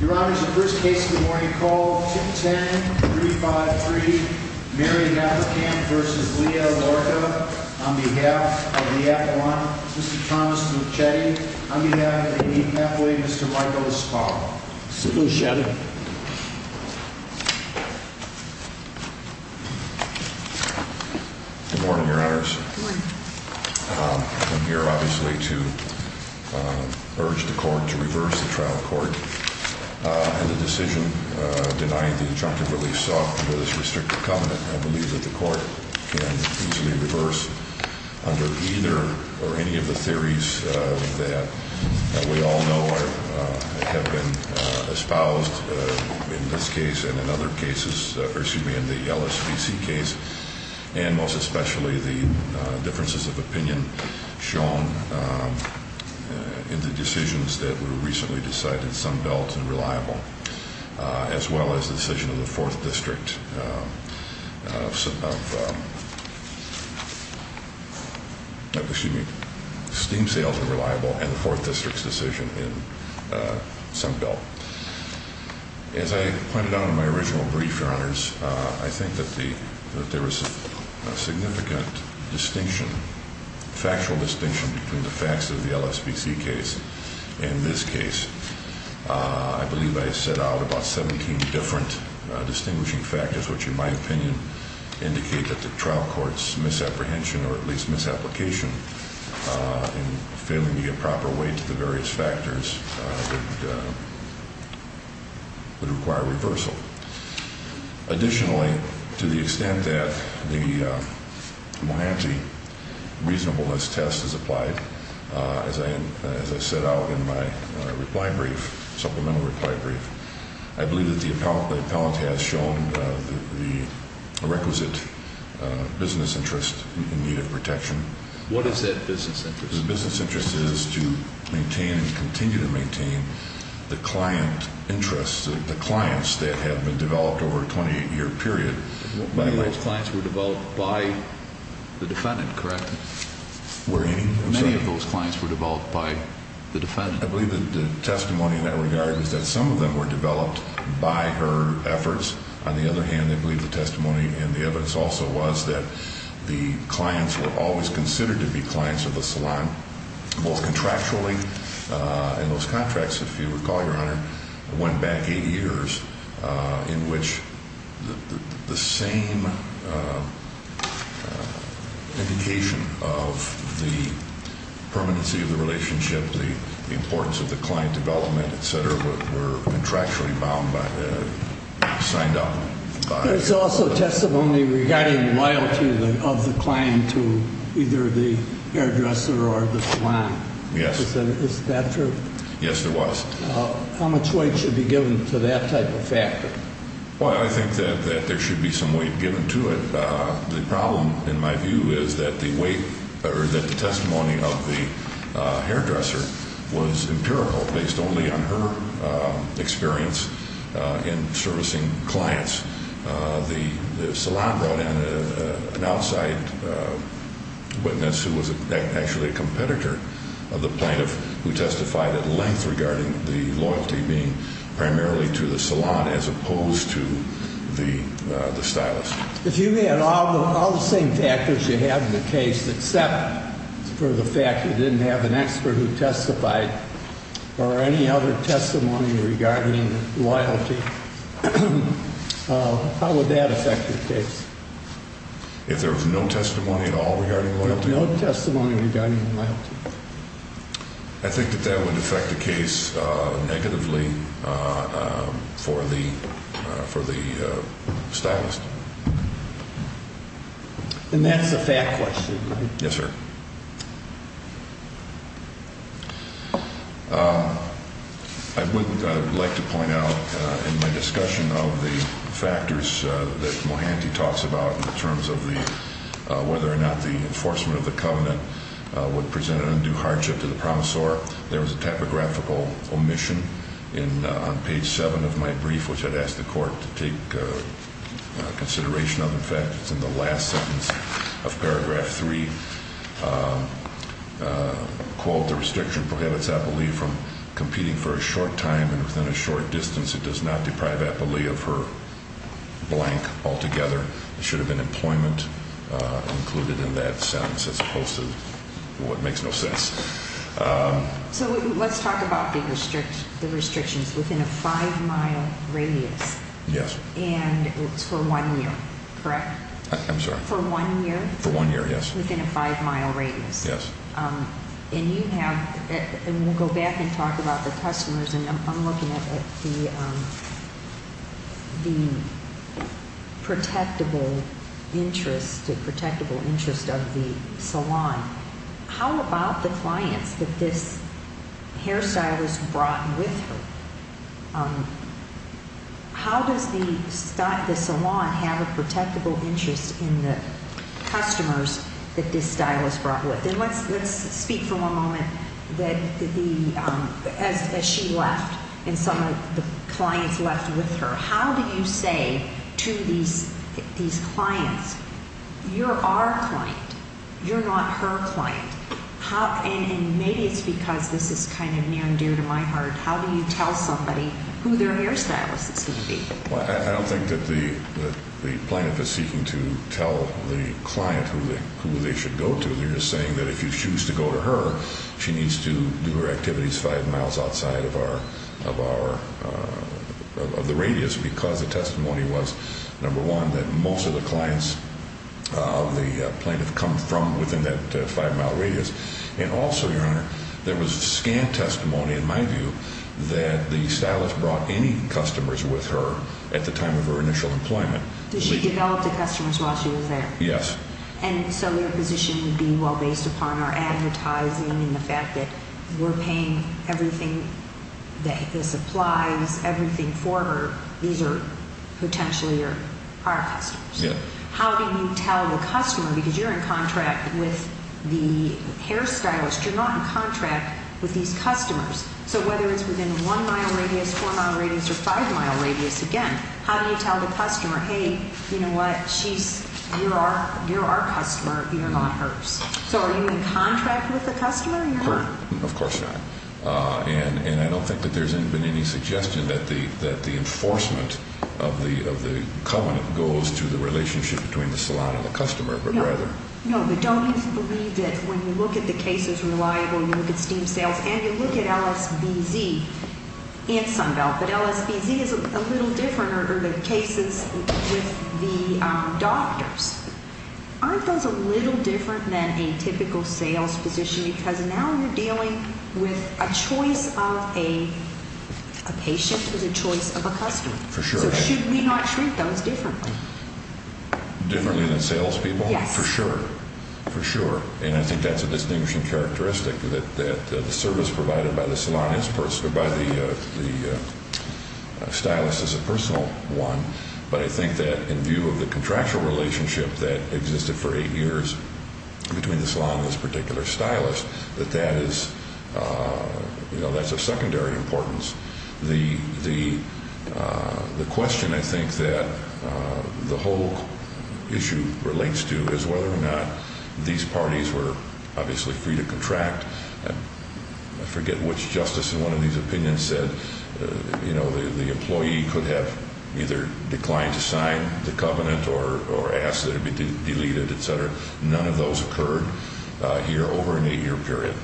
Your Honor, the first case of the morning called 210-353 Mary Hafferkamp v. Leah Llorca on behalf of the appellant, Mr. Thomas Lucchetti, on behalf of the Indian Catholic, Mr. Michael Spaulding. Sit down, Shannon. Good morning, Your Honors. Good morning. I'm here obviously to urge the court to reverse the trial court. And the decision denying the injunctive relief sought under this restrictive covenant, I believe that the court can easily reverse under either or any of the theories that we all know have been espoused in this case and in other cases, or excuse me, in the LSVC case. And most especially the differences of opinion shown in the decisions that were recently decided in Sunbelt and Reliable, as well as the decision of the 4th District of, excuse me, Steam Sales and Reliable and the 4th District's decision in Sunbelt. As I pointed out in my original brief, Your Honors, I think that there was a significant distinction, factual distinction between the facts of the LSVC case and this case. I believe I set out about 17 different distinguishing factors, which in my opinion indicate that the trial court's misapprehension or at least misapplication in failing to get proper weight to the various factors would require reversal. Additionally, to the extent that the Mohanty reasonableness test is applied, as I set out in my reply brief, supplemental reply brief, I believe that the appellant has shown the requisite business interest in need of protection. What is that business interest? The business interest is to maintain and continue to maintain the client interests, the clients that have been developed over a 28-year period. Many of those clients were developed by the defendant, correct? Were any? I'm sorry. Many of those clients were developed by the defendant. I believe that the testimony in that regard is that some of them were developed by her efforts. On the other hand, I believe the testimony and the evidence also was that the clients were always considered to be clients of the salon, both contractually. And those contracts, if you recall, Your Honor, went back eight years in which the same indication of the permanency of the relationship, the importance of the client development, et cetera, were contractually signed up. There's also testimony regarding loyalty of the client to either the hairdresser or the salon. Yes. Is that true? Yes, it was. How much weight should be given to that type of factor? Well, I think that there should be some weight given to it. The problem, in my view, is that the weight or that the testimony of the hairdresser was empirical based only on her experience in servicing clients. The salon brought in an outside witness who was actually a competitor of the plaintiff who testified at length regarding the loyalty being primarily to the salon as opposed to the stylist. If you had all the same factors you have in the case except for the fact you didn't have an expert who testified or any other testimony regarding loyalty, how would that affect the case? If there was no testimony at all regarding loyalty? No testimony regarding loyalty. I think that that would affect the case negatively for the stylist. And that's a fact question, right? Yes, sir. I would like to point out in my discussion of the factors that Mohanty talks about in terms of whether or not the enforcement of the covenant would present an undue hardship to the promissor, there was a typographical omission on page 7 of my brief which I'd asked the court to take consideration of. In fact, it's in the last sentence of paragraph 3. Quote, the restriction prohibits Apolli from competing for a short time and within a short distance. It does not deprive Apolli of her blank altogether. It should have been employment included in that sentence as opposed to what makes no sense. So let's talk about the restrictions within a five-mile radius. Yes. And it's for one year, correct? I'm sorry? For one year? For one year, yes. Within a five-mile radius. Yes. And you have, and we'll go back and talk about the customers, and I'm looking at the protectable interest of the salon. How about the clients that this hairstylist brought with her? How does the salon have a protectable interest in the customers that this stylist brought with? And let's speak for one moment as she left and some of the clients left with her. How do you say to these clients, you're our client, you're not her client, and maybe it's because this is kind of near and dear to my heart, how do you tell somebody who their hairstylist is going to be? I don't think that the plaintiff is seeking to tell the client who they should go to. They're just saying that if you choose to go to her, she needs to do her activities five miles outside of the radius because the testimony was, number one, that most of the clients of the plaintiff come from within that five-mile radius. And also, Your Honor, there was scan testimony, in my view, that the stylist brought any customers with her at the time of her initial employment. Did she develop the customers while she was there? Yes. And so your position would be, well, based upon our advertising and the fact that we're paying everything, the supplies, everything for her, these are potentially our customers. Yes. How do you tell the customer, because you're in contract with the hairstylist, you're not in contract with these customers, so whether it's within a one-mile radius, four-mile radius, or five-mile radius, again, how do you tell the customer, hey, you know what, you're our customer, you're not hers? So are you in contract with the customer or you're not? Of course not. And I don't think that there's been any suggestion that the enforcement of the covenant goes to the relationship between the salon and the customer. No. No, but don't you believe that when you look at the cases reliable, you look at steam sales, and you look at LSBZ in Sunbelt, but LSBZ is a little different, or the cases with the doctors. Aren't those a little different than a typical sales position? Because now you're dealing with a choice of a patient with a choice of a customer. For sure. So should we not treat those differently? Differently than salespeople? Yes. For sure. For sure. And I think that's a distinguishing characteristic, that the service provided by the stylist is a personal one, but I think that in view of the contractual relationship that existed for eight years between the salon and this particular stylist, that that is of secondary importance. The question I think that the whole issue relates to is whether or not these parties were obviously free to contract. I forget which justice in one of these opinions said, you know, the employee could have either declined to sign the covenant or asked that it be deleted, et cetera. None of those occurred here over an eight-year period.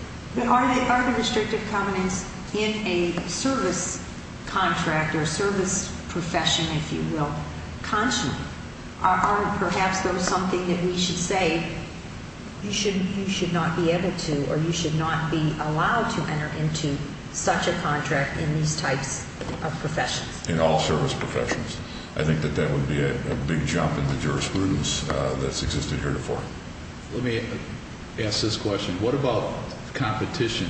Are the restrictive covenants in a service contract or service profession, if you will, are perhaps those something that we should say you should not be able to or you should not be allowed to enter into such a contract in these types of professions? In all service professions. I think that that would be a big jump in the jurisprudence that's existed here before. Let me ask this question. What about competition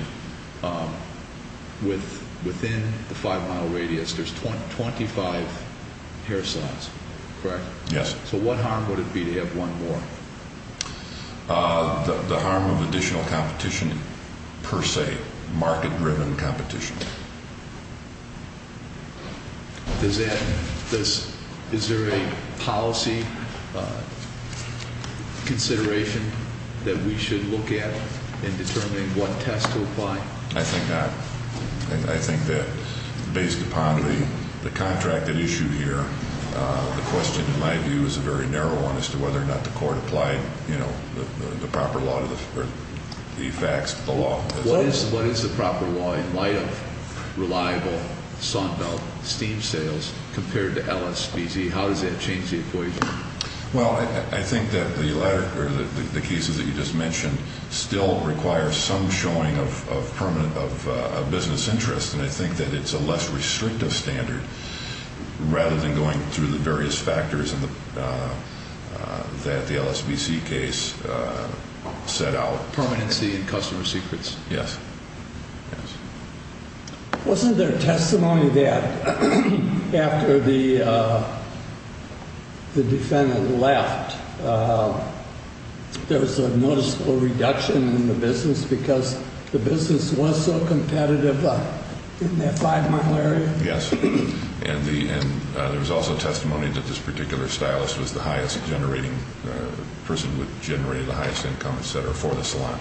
within the five-mile radius? There's 25 hair salons, correct? Yes. So what harm would it be to have one more? The harm of additional competition per se, market-driven competition. Is there a policy consideration that we should look at in determining what test to apply? I think not. I think that based upon the contract that is issued here, the question in my view is a very narrow one as to whether or not the court applied, you know, the proper law or the facts of the law. What is the proper law in light of reliable saunt belt steam sales compared to LSBC? How does that change the equation? Well, I think that the cases that you just mentioned still require some showing of business interest, and I think that it's a less restrictive standard rather than going through the various factors that the LSBC case set out. Permanency and customer secrets. Yes. Wasn't there testimony that after the defendant left, there was a noticeable reduction in the business because the business was so competitive in that five-mile area? Yes. And there was also testimony that this particular stylist was the highest generating person, would generate the highest income, et cetera, for the salon.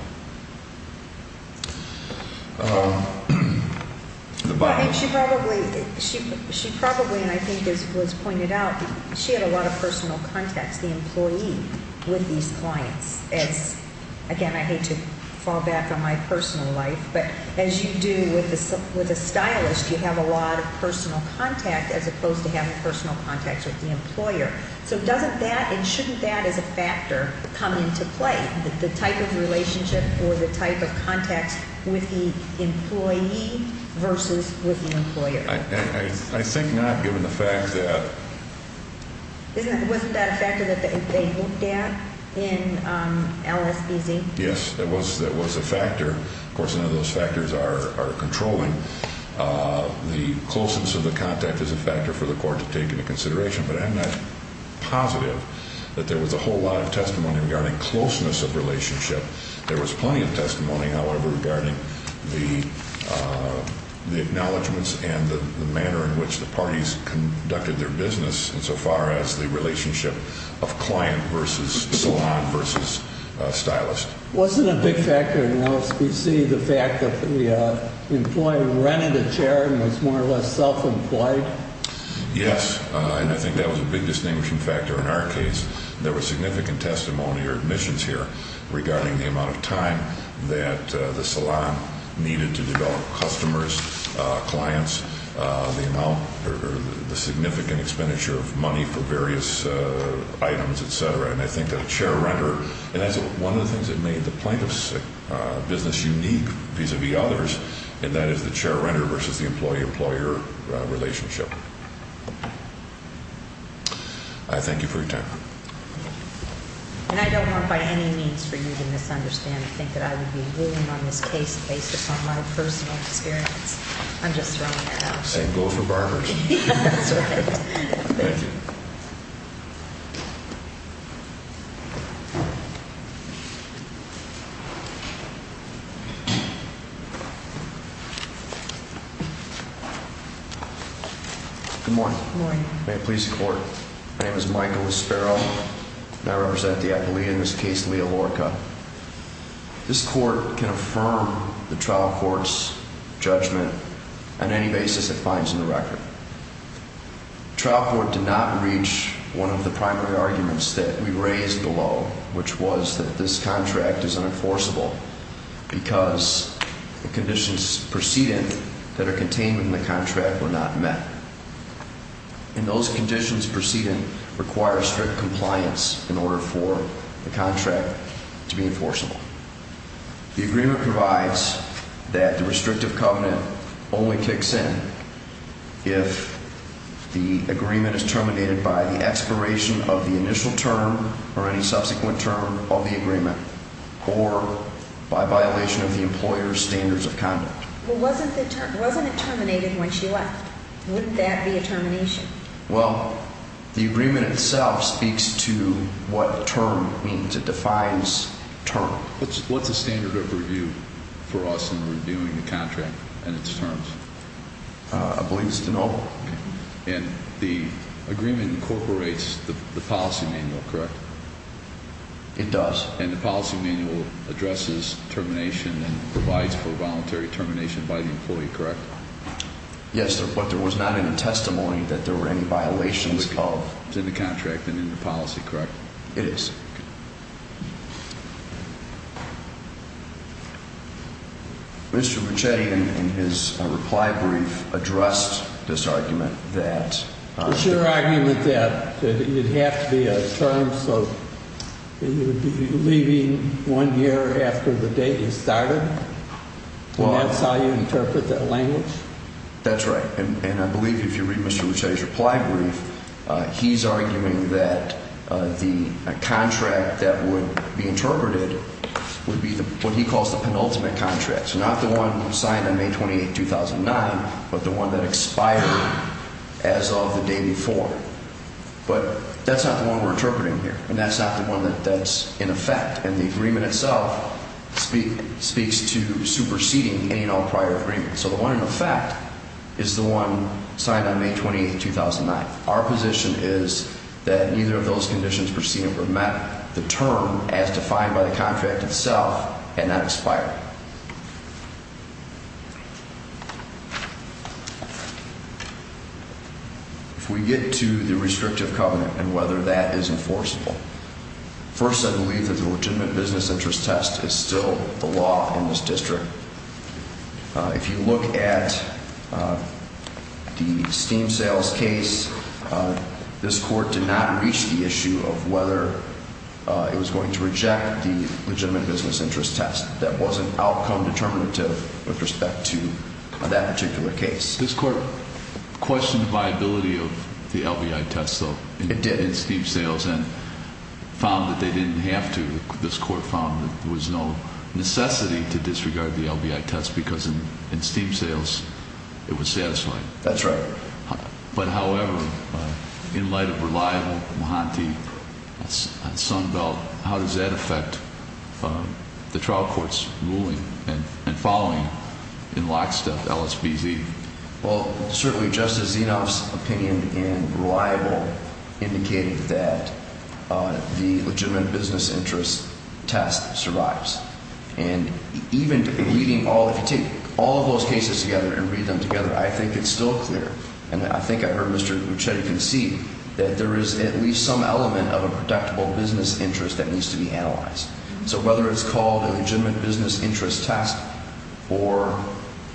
She probably, and I think this was pointed out, she had a lot of personal contacts, the employee, with these clients. Again, I hate to fall back on my personal life, but as you do with a stylist, you have a lot of personal contact as opposed to having personal contacts with the employer. So doesn't that and shouldn't that as a factor come into play, the type of relationship or the type of contacts with the employee versus with the employer? I think not given the fact that. Wasn't that a factor that they looked at in LSBC? Yes, that was a factor. Of course, none of those factors are controlling. The closeness of the contact is a factor for the court to take into consideration, but I'm not positive that there was a whole lot of testimony regarding closeness of relationship. There was plenty of testimony, however, regarding the acknowledgments and the manner in which the parties conducted their business insofar as the relationship of client versus salon versus stylist. Wasn't a big factor in LSBC the fact that the employee rented a chair and was more or less self-employed? Yes, and I think that was a big distinguishing factor in our case. There was significant testimony or admissions here regarding the amount of time that the salon needed to develop customers, clients, the significant expenditure of money for various items, et cetera. And I think that a chair renter, and that's one of the things that made the plaintiff's business unique vis-à-vis others, and that is the chair renter versus the employee-employer relationship. I thank you for your time. And I don't want by any means for you to misunderstand or think that I would be ruling on this case based upon my personal experience. I'm just throwing that out there. Same goes for barbers. That's right. Thank you. Thank you. Good morning. Good morning. May it please the Court. My name is Michael Espero, and I represent the appealee in this case, Leah Lorca. This Court can affirm the trial court's judgment on any basis it finds in the record. The trial court did not reach one of the primary arguments that we raised below, which was that this contract is unenforceable because the conditions preceding that are contained in the contract were not met. And those conditions preceding require strict compliance in order for the contract to be enforceable. The agreement provides that the restrictive covenant only kicks in if the agreement is terminated by the expiration of the initial term or any subsequent term of the agreement or by violation of the employer's standards of conduct. Wasn't it terminated when she left? Wouldn't that be a termination? Well, the agreement itself speaks to what term means. It defines term. What's the standard of review for us in reviewing the contract and its terms? I believe it's de novo. Okay. And the agreement incorporates the policy manual, correct? It does. And the policy manual addresses termination and provides for voluntary termination by the employee, correct? Yes, but there was not any testimony that there were any violations of. It's in the contract and in the policy, correct? It is. Mr. Ricchetti, in his reply brief, addressed this argument that... The sheer argument that it would have to be a term. So you would be leaving one year after the date is started, and that's how you interpret that language? That's right. And I believe if you read Mr. Ricchetti's reply brief, he's arguing that the contract that would be interpreted would be what he calls the penultimate contract. So not the one signed on May 28, 2009, but the one that expired as of the day before. But that's not the one we're interpreting here, and that's not the one that's in effect. And the agreement itself speaks to superseding any and all prior agreements. So the one in effect is the one signed on May 28, 2009. Our position is that neither of those conditions perceived were met. The term, as defined by the contract itself, had not expired. If we get to the restrictive covenant and whether that is enforceable... First, I believe that the legitimate business interest test is still the law in this district. If you look at the steam sales case, this court did not reach the issue of whether it was going to reject the legitimate business interest test. That wasn't outcome determinative with respect to that particular case. This court questioned the viability of the LVI test, though. It did. In steam sales and found that they didn't have to. This court found that there was no necessity to disregard the LVI test because in steam sales it was satisfying. That's right. But, however, in light of reliable, Mahanti, Sunbelt, how does that affect the trial court's ruling and following in lockstep LSBZ? Well, certainly Justice Zinov's opinion in reliable indicated that the legitimate business interest test survives. And even if you take all of those cases together and read them together, I think it's still clear... And I think I heard Mr. Lucchetti concede that there is at least some element of a predictable business interest that needs to be analyzed. So whether it's called a legitimate business interest test or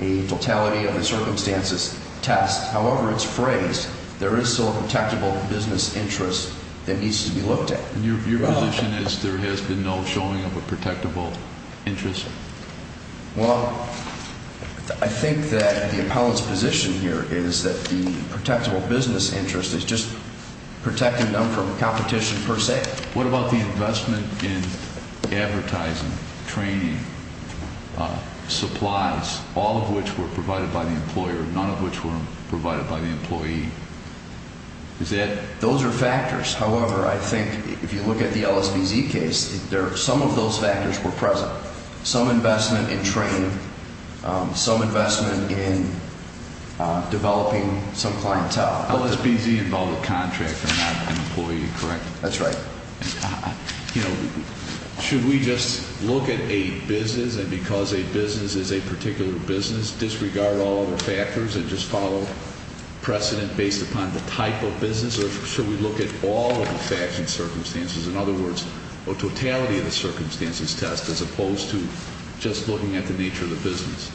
a totality of the circumstances test, however it's phrased, there is still a protectable business interest that needs to be looked at. Your position is there has been no showing of a protectable interest? Well, I think that the appellant's position here is that the protectable business interest is just protecting them from competition per se. What about the investment in advertising, training, supplies, all of which were provided by the employer, none of which were provided by the employee? Those are factors. However, I think if you look at the LSBZ case, some of those factors were present. Some investment in training, some investment in developing some clientele. LSBZ involved a contractor, not an employee, correct? That's right. You know, should we just look at a business, and because a business is a particular business, disregard all other factors and just follow precedent based upon the type of business? Or should we look at all of the facts and circumstances, in other words, a totality of the circumstances test as opposed to just looking at the nature of the business?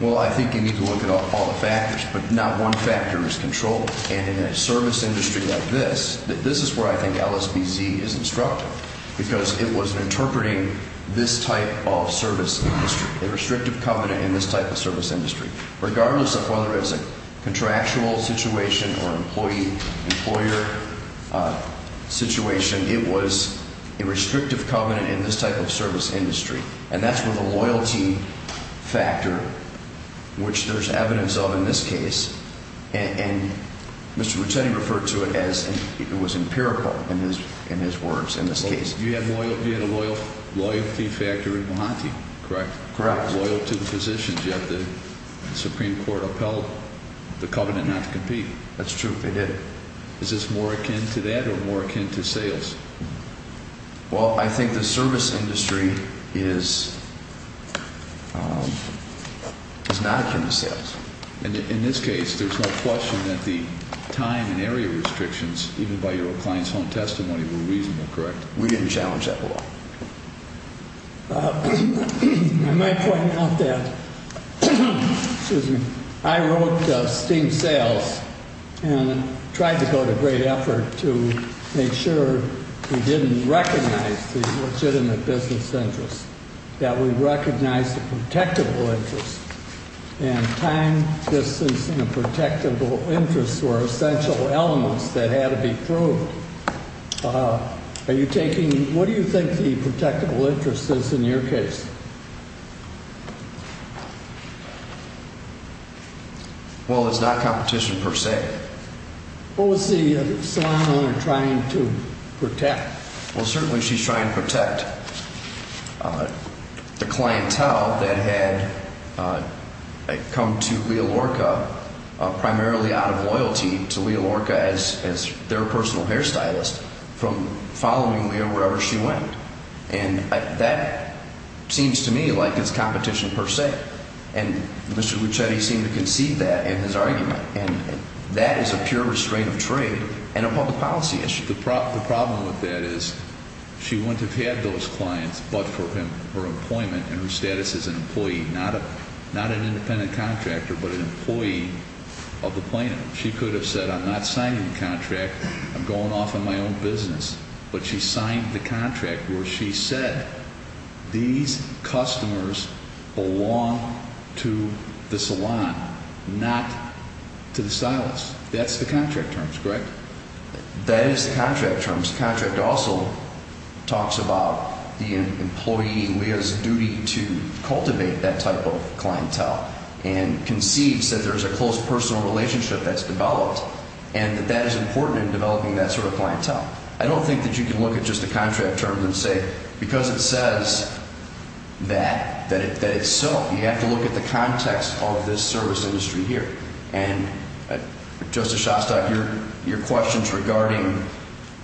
Well, I think you need to look at all the factors, but not one factor is controlled. And in a service industry like this, this is where I think LSBZ is instructive, because it was interpreting this type of service industry, a restrictive covenant in this type of service industry. Regardless of whether it was a contractual situation or employee-employer situation, it was a restrictive covenant in this type of service industry. And that's where the loyalty factor, which there's evidence of in this case, and Mr. Ruttetti referred to it as it was empirical in his words in this case. You had a loyalty factor in Mahanti, correct? Correct. Loyal to the positions, yet the Supreme Court upheld the covenant not to compete. That's true, they did. Is this more akin to that or more akin to sales? Well, I think the service industry is not akin to sales. In this case, there's no question that the time and area restrictions, even by your client's home testimony, were reasonable, correct? We didn't challenge that law. I might point out that I wrote Steem Sales and tried to go to great effort to make sure we didn't recognize the legitimate business interests, that we recognized the protectable interests. And time, distance, and protectable interests were essential elements that had to be proved. What do you think the protectable interest is in your case? Well, it's not competition per se. What was the saloon owner trying to protect? Well, certainly she's trying to protect the clientele that had come to Leah Lorca primarily out of loyalty to Leah Lorca as their personal hairstylist from following Leah wherever she went. And that seems to me like it's competition per se. And Mr. Lucchetti seemed to concede that in his argument. And that is a pure restraint of trade and a public policy issue. The problem with that is she wouldn't have had those clients but for her employment and her status as an employee, not an independent contractor but an employee of the plaintiff. She could have said, I'm not signing the contract. I'm going off on my own business. But she signed the contract where she said these customers belong to the salon, not to the stylist. That's the contract terms, correct? That is the contract terms. The contract also talks about the employee, Leah's duty to cultivate that type of clientele and concedes that there's a close personal relationship that's developed and that that is important in developing that sort of clientele. I don't think that you can look at just the contract terms and say because it says that, that it's so. You have to look at the context of this service industry here. And Justice Shostak, your questions regarding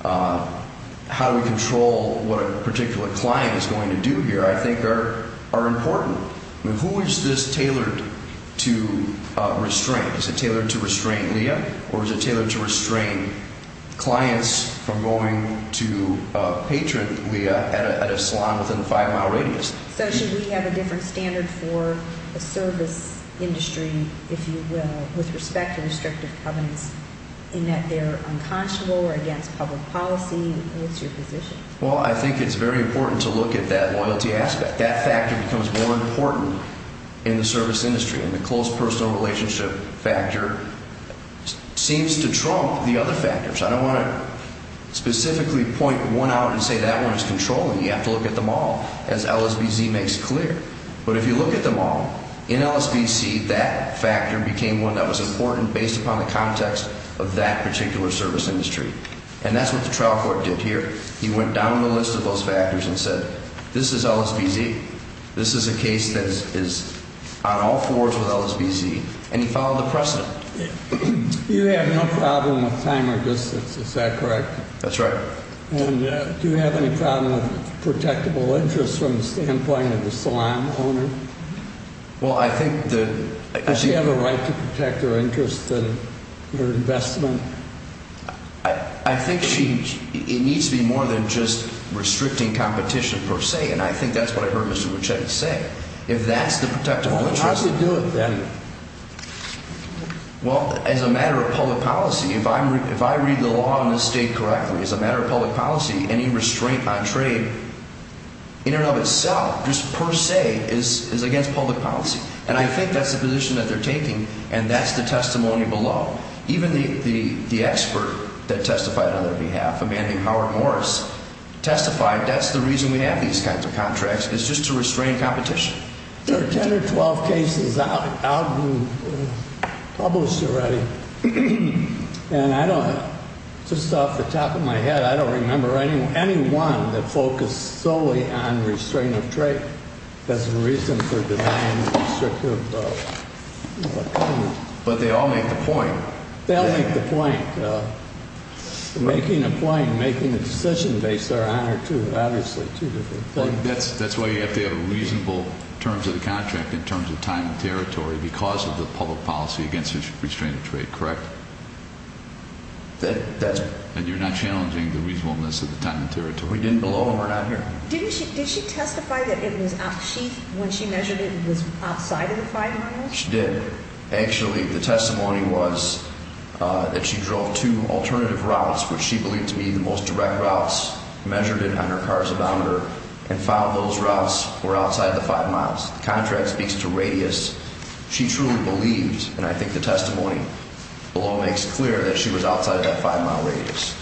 how we control what a particular client is going to do here I think are important. Who is this tailored to restrain? Is it tailored to restrain Leah or is it tailored to restrain clients from going to patron Leah at a salon within a five-mile radius? So should we have a different standard for the service industry, if you will, with respect to restrictive covenants in that they're unconscionable or against public policy? What's your position? Well, I think it's very important to look at that loyalty aspect. That factor becomes more important in the service industry. And the close personal relationship factor seems to trump the other factors. I don't want to specifically point one out and say that one is controlling. You have to look at them all, as LSBZ makes clear. But if you look at them all, in LSBC, that factor became one that was important based upon the context of that particular service industry. And that's what the trial court did here. He went down the list of those factors and said, this is LSBZ. This is a case that is on all fours with LSBZ. And he followed the precedent. You have no problem with time or distance. Is that correct? That's right. And do you have any problem with protectable interests from the standpoint of the salon owner? Well, I think the – Does she have a right to protect her interests and her investment? I think she – it needs to be more than just restricting competition per se. And I think that's what I heard Mr. Muchetti say. If that's the protectable interest – Well, how do you do it then? Well, as a matter of public policy, if I read the law in this state correctly, as a matter of public policy, any restraint on trade in and of itself, just per se, is against public policy. And I think that's the position that they're taking, and that's the testimony below. Even the expert that testified on their behalf, a man named Howard Morris, testified that's the reason we have these kinds of contracts. It's just to restrain competition. There are 10 or 12 cases out and published already. And I don't – just off the top of my head, I don't remember any one that focused solely on restraint of trade as a reason for denying restrictive – But they all make the point. They all make the point. Making a point, making a decision based on one or two, obviously, two different things. Well, that's why you have to have reasonable terms of the contract in terms of time and territory because of the public policy against restraint of trade, correct? That's – And you're not challenging the reasonableness of the time and territory. We didn't below them. We're not here. Didn't she – did she testify that it was – when she measured it, it was outside of the five miles? She did. Actually, the testimony was that she drove two alternative routes, which she believed to be the most direct routes, measured it on her car's odometer, and found those routes were outside the five miles. The contract speaks to radius. She truly believed, and I think the testimony below makes clear, that she was outside of that five-mile radius.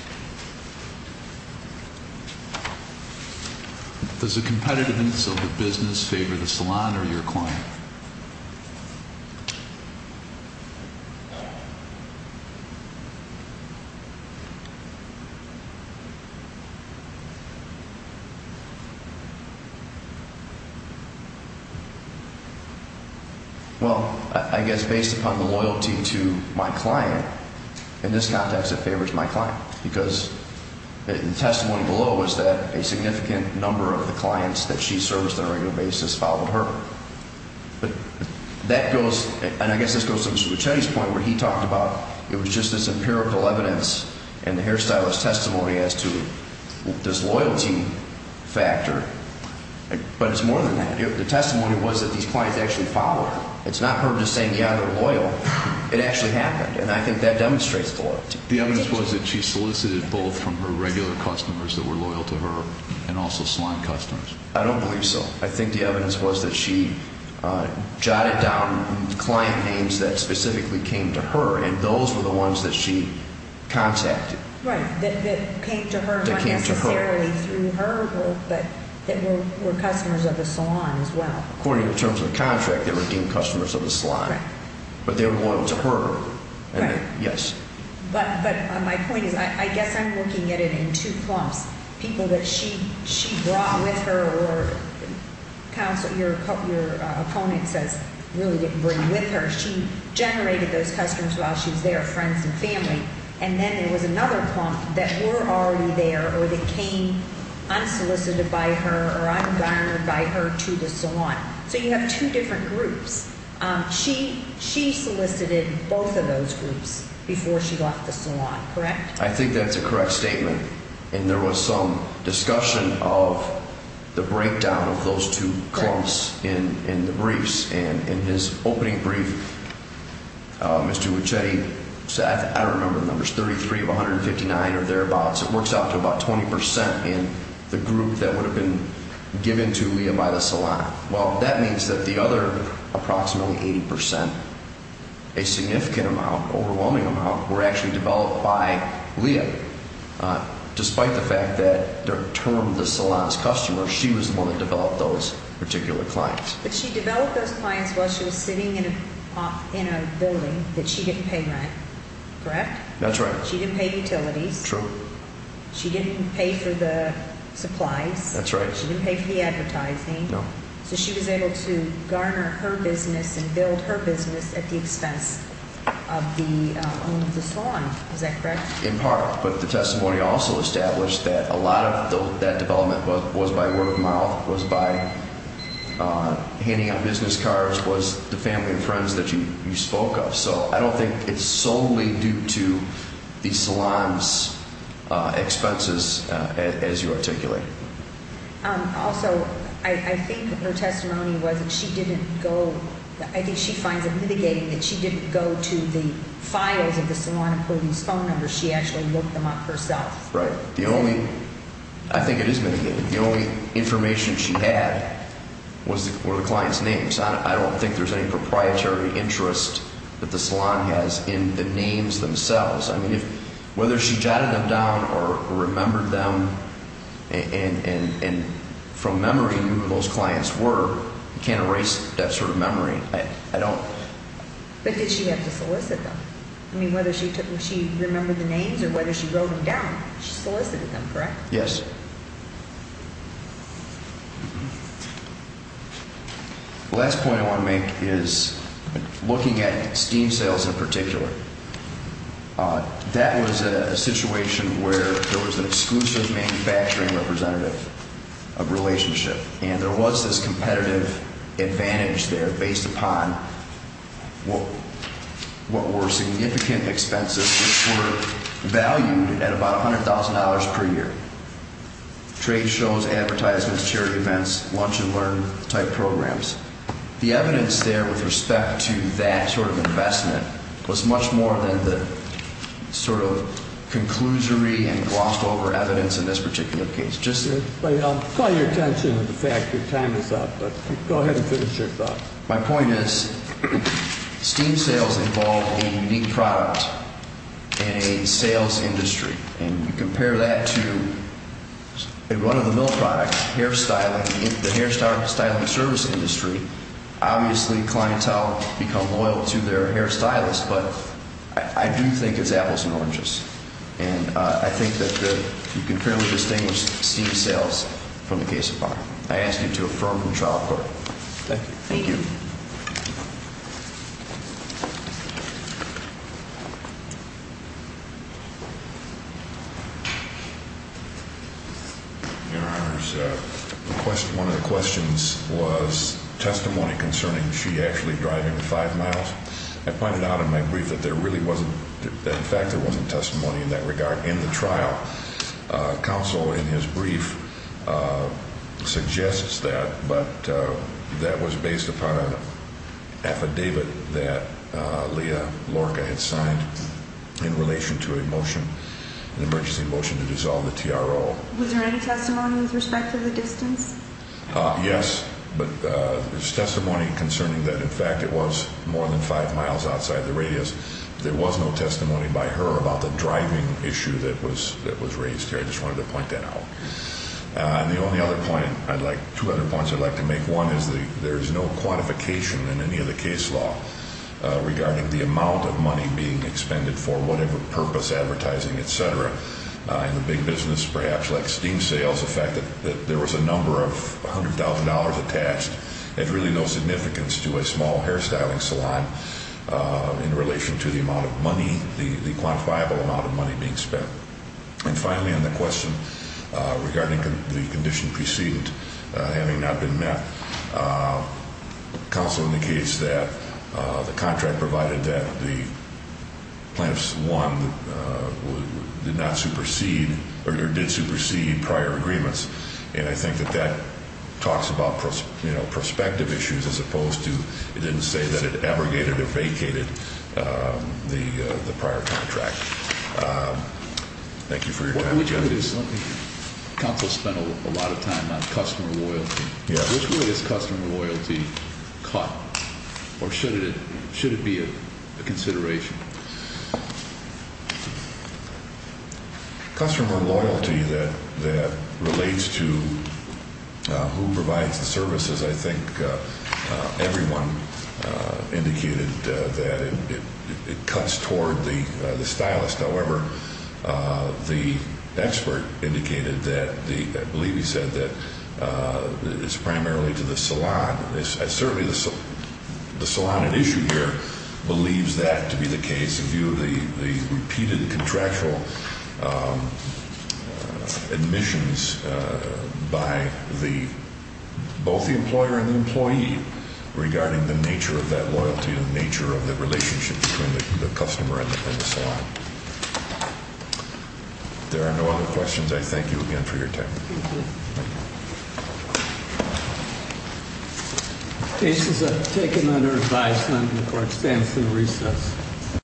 Does the competitiveness of the business favor the salon or your client? Well, I guess based upon the loyalty to my client, in this context it favors my client because the testimony below is that a significant number of the clients that she serviced on a regular basis followed her. But that goes – and I guess this goes to Mr. Lucchetti's point where he talked about it was just this empirical evidence and the hairstylist's testimony as to this loyalty factor. But it's more than that. The testimony was that these clients actually followed her. It's not her just saying, yeah, they're loyal. It actually happened, and I think that demonstrates loyalty. The evidence was that she solicited both from her regular customers that were loyal to her and also salon customers. I don't believe so. I think the evidence was that she jotted down client names that specifically came to her, and those were the ones that she contacted. Right, that came to her, not necessarily through her, but that were customers of the salon as well. According to the terms of the contract, they were deemed customers of the salon. Right. But they were loyal to her. Right. Yes. But my point is I guess I'm looking at it in two clumps, people that she brought with her or your opponent says really didn't bring with her. She generated those customers while she was there, friends and family. And then there was another clump that were already there or that came unsolicited by her or un-garnered by her to the salon. So you have two different groups. She solicited both of those groups before she left the salon, correct? I think that's a correct statement. And there was some discussion of the breakdown of those two clumps in the briefs. And in his opening brief, Mr. Wichetti said, I don't remember the numbers, 33 of 159 or thereabouts. It works out to about 20 percent in the group that would have been given to Leah by the salon. Well, that means that the other approximately 80 percent, a significant amount, overwhelming amount, were actually developed by Leah. Despite the fact that their term, the salon's customer, she was the one that developed those particular clients. But she developed those clients while she was sitting in a building that she didn't pay rent, correct? That's right. She didn't pay utilities. True. She didn't pay for the supplies. That's right. She didn't pay for the advertising. No. So she was able to garner her business and build her business at the expense of the owner of the salon. Is that correct? In part. But the testimony also established that a lot of that development was by word of mouth, was by handing out business cards, was the family and friends that you spoke of. So I don't think it's solely due to the salon's expenses as you articulate. Also, I think her testimony was that she didn't go, I think she finds it mitigating that she didn't go to the files of the salon and pull these phone numbers. She actually looked them up herself. Right. The only, I think it is mitigating, the only information she had were the clients' names. I don't think there's any proprietary interest that the salon has in the names themselves. I mean, whether she jotted them down or remembered them and from memory knew who those clients were, you can't erase that sort of memory. I don't. But did she have to solicit them? I mean, whether she remembered the names or whether she wrote them down, she solicited them, correct? Yes. The last point I want to make is looking at steam sales in particular. That was a situation where there was an exclusive manufacturing representative of relationship. And there was this competitive advantage there based upon what were significant expenses that were valued at about $100,000 per year, trade shows, advertisements, charity events, lunch and learn type programs. The evidence there with respect to that sort of investment was much more than the sort of conclusory and glossed over evidence in this particular case. I'll call your attention to the fact that your time is up, but go ahead and finish your thought. My point is steam sales involve a unique product in a sales industry. And you compare that to one of the mill products, hair styling, the hair styling service industry, obviously clientele become loyal to their hair stylist. But I do think it's apples and oranges. And I think that you can fairly distinguish steam sales from the case of bar. I ask you to affirm from trial court. Thank you. Thank you. Your Honor, one of the questions was testimony concerning she actually driving five miles. I pointed out in my brief that there really wasn't, in fact, there wasn't testimony in that regard in the trial. Counsel in his brief suggests that, but that was based upon an affidavit that Leah Lorca had signed in relation to a motion, an emergency motion to dissolve the TRO. Was there any testimony with respect to the distance? Yes. But there's testimony concerning that, in fact, it was more than five miles outside the radius. There was no testimony by her about the driving issue that was raised here. I just wanted to point that out. And the only other point I'd like, two other points I'd like to make. One is there is no quantification in any of the case law regarding the amount of money being expended for whatever purpose, advertising, et cetera. In the big business, perhaps like steam sales, the fact that there was a number of $100,000 attached had really no significance to a small hairstyling salon in relation to the amount of money, the quantifiable amount of money being spent. And finally, on the question regarding the condition precedent having not been met, counsel indicates that the contract provided that the plaintiff's one did not supersede or did supersede prior agreements. And I think that that talks about prospective issues as opposed to it didn't say that it abrogated or vacated the prior contract. Thank you for your time. Counsel spent a lot of time on customer loyalty. Which way is customer loyalty cut, or should it be a consideration? Customer loyalty that relates to who provides the services, I think everyone indicated that it cuts toward the stylist. However, the expert indicated that, I believe he said that it's primarily to the salon. There are no other questions. I thank you again for your time. This is taken under advisement for expense and recess.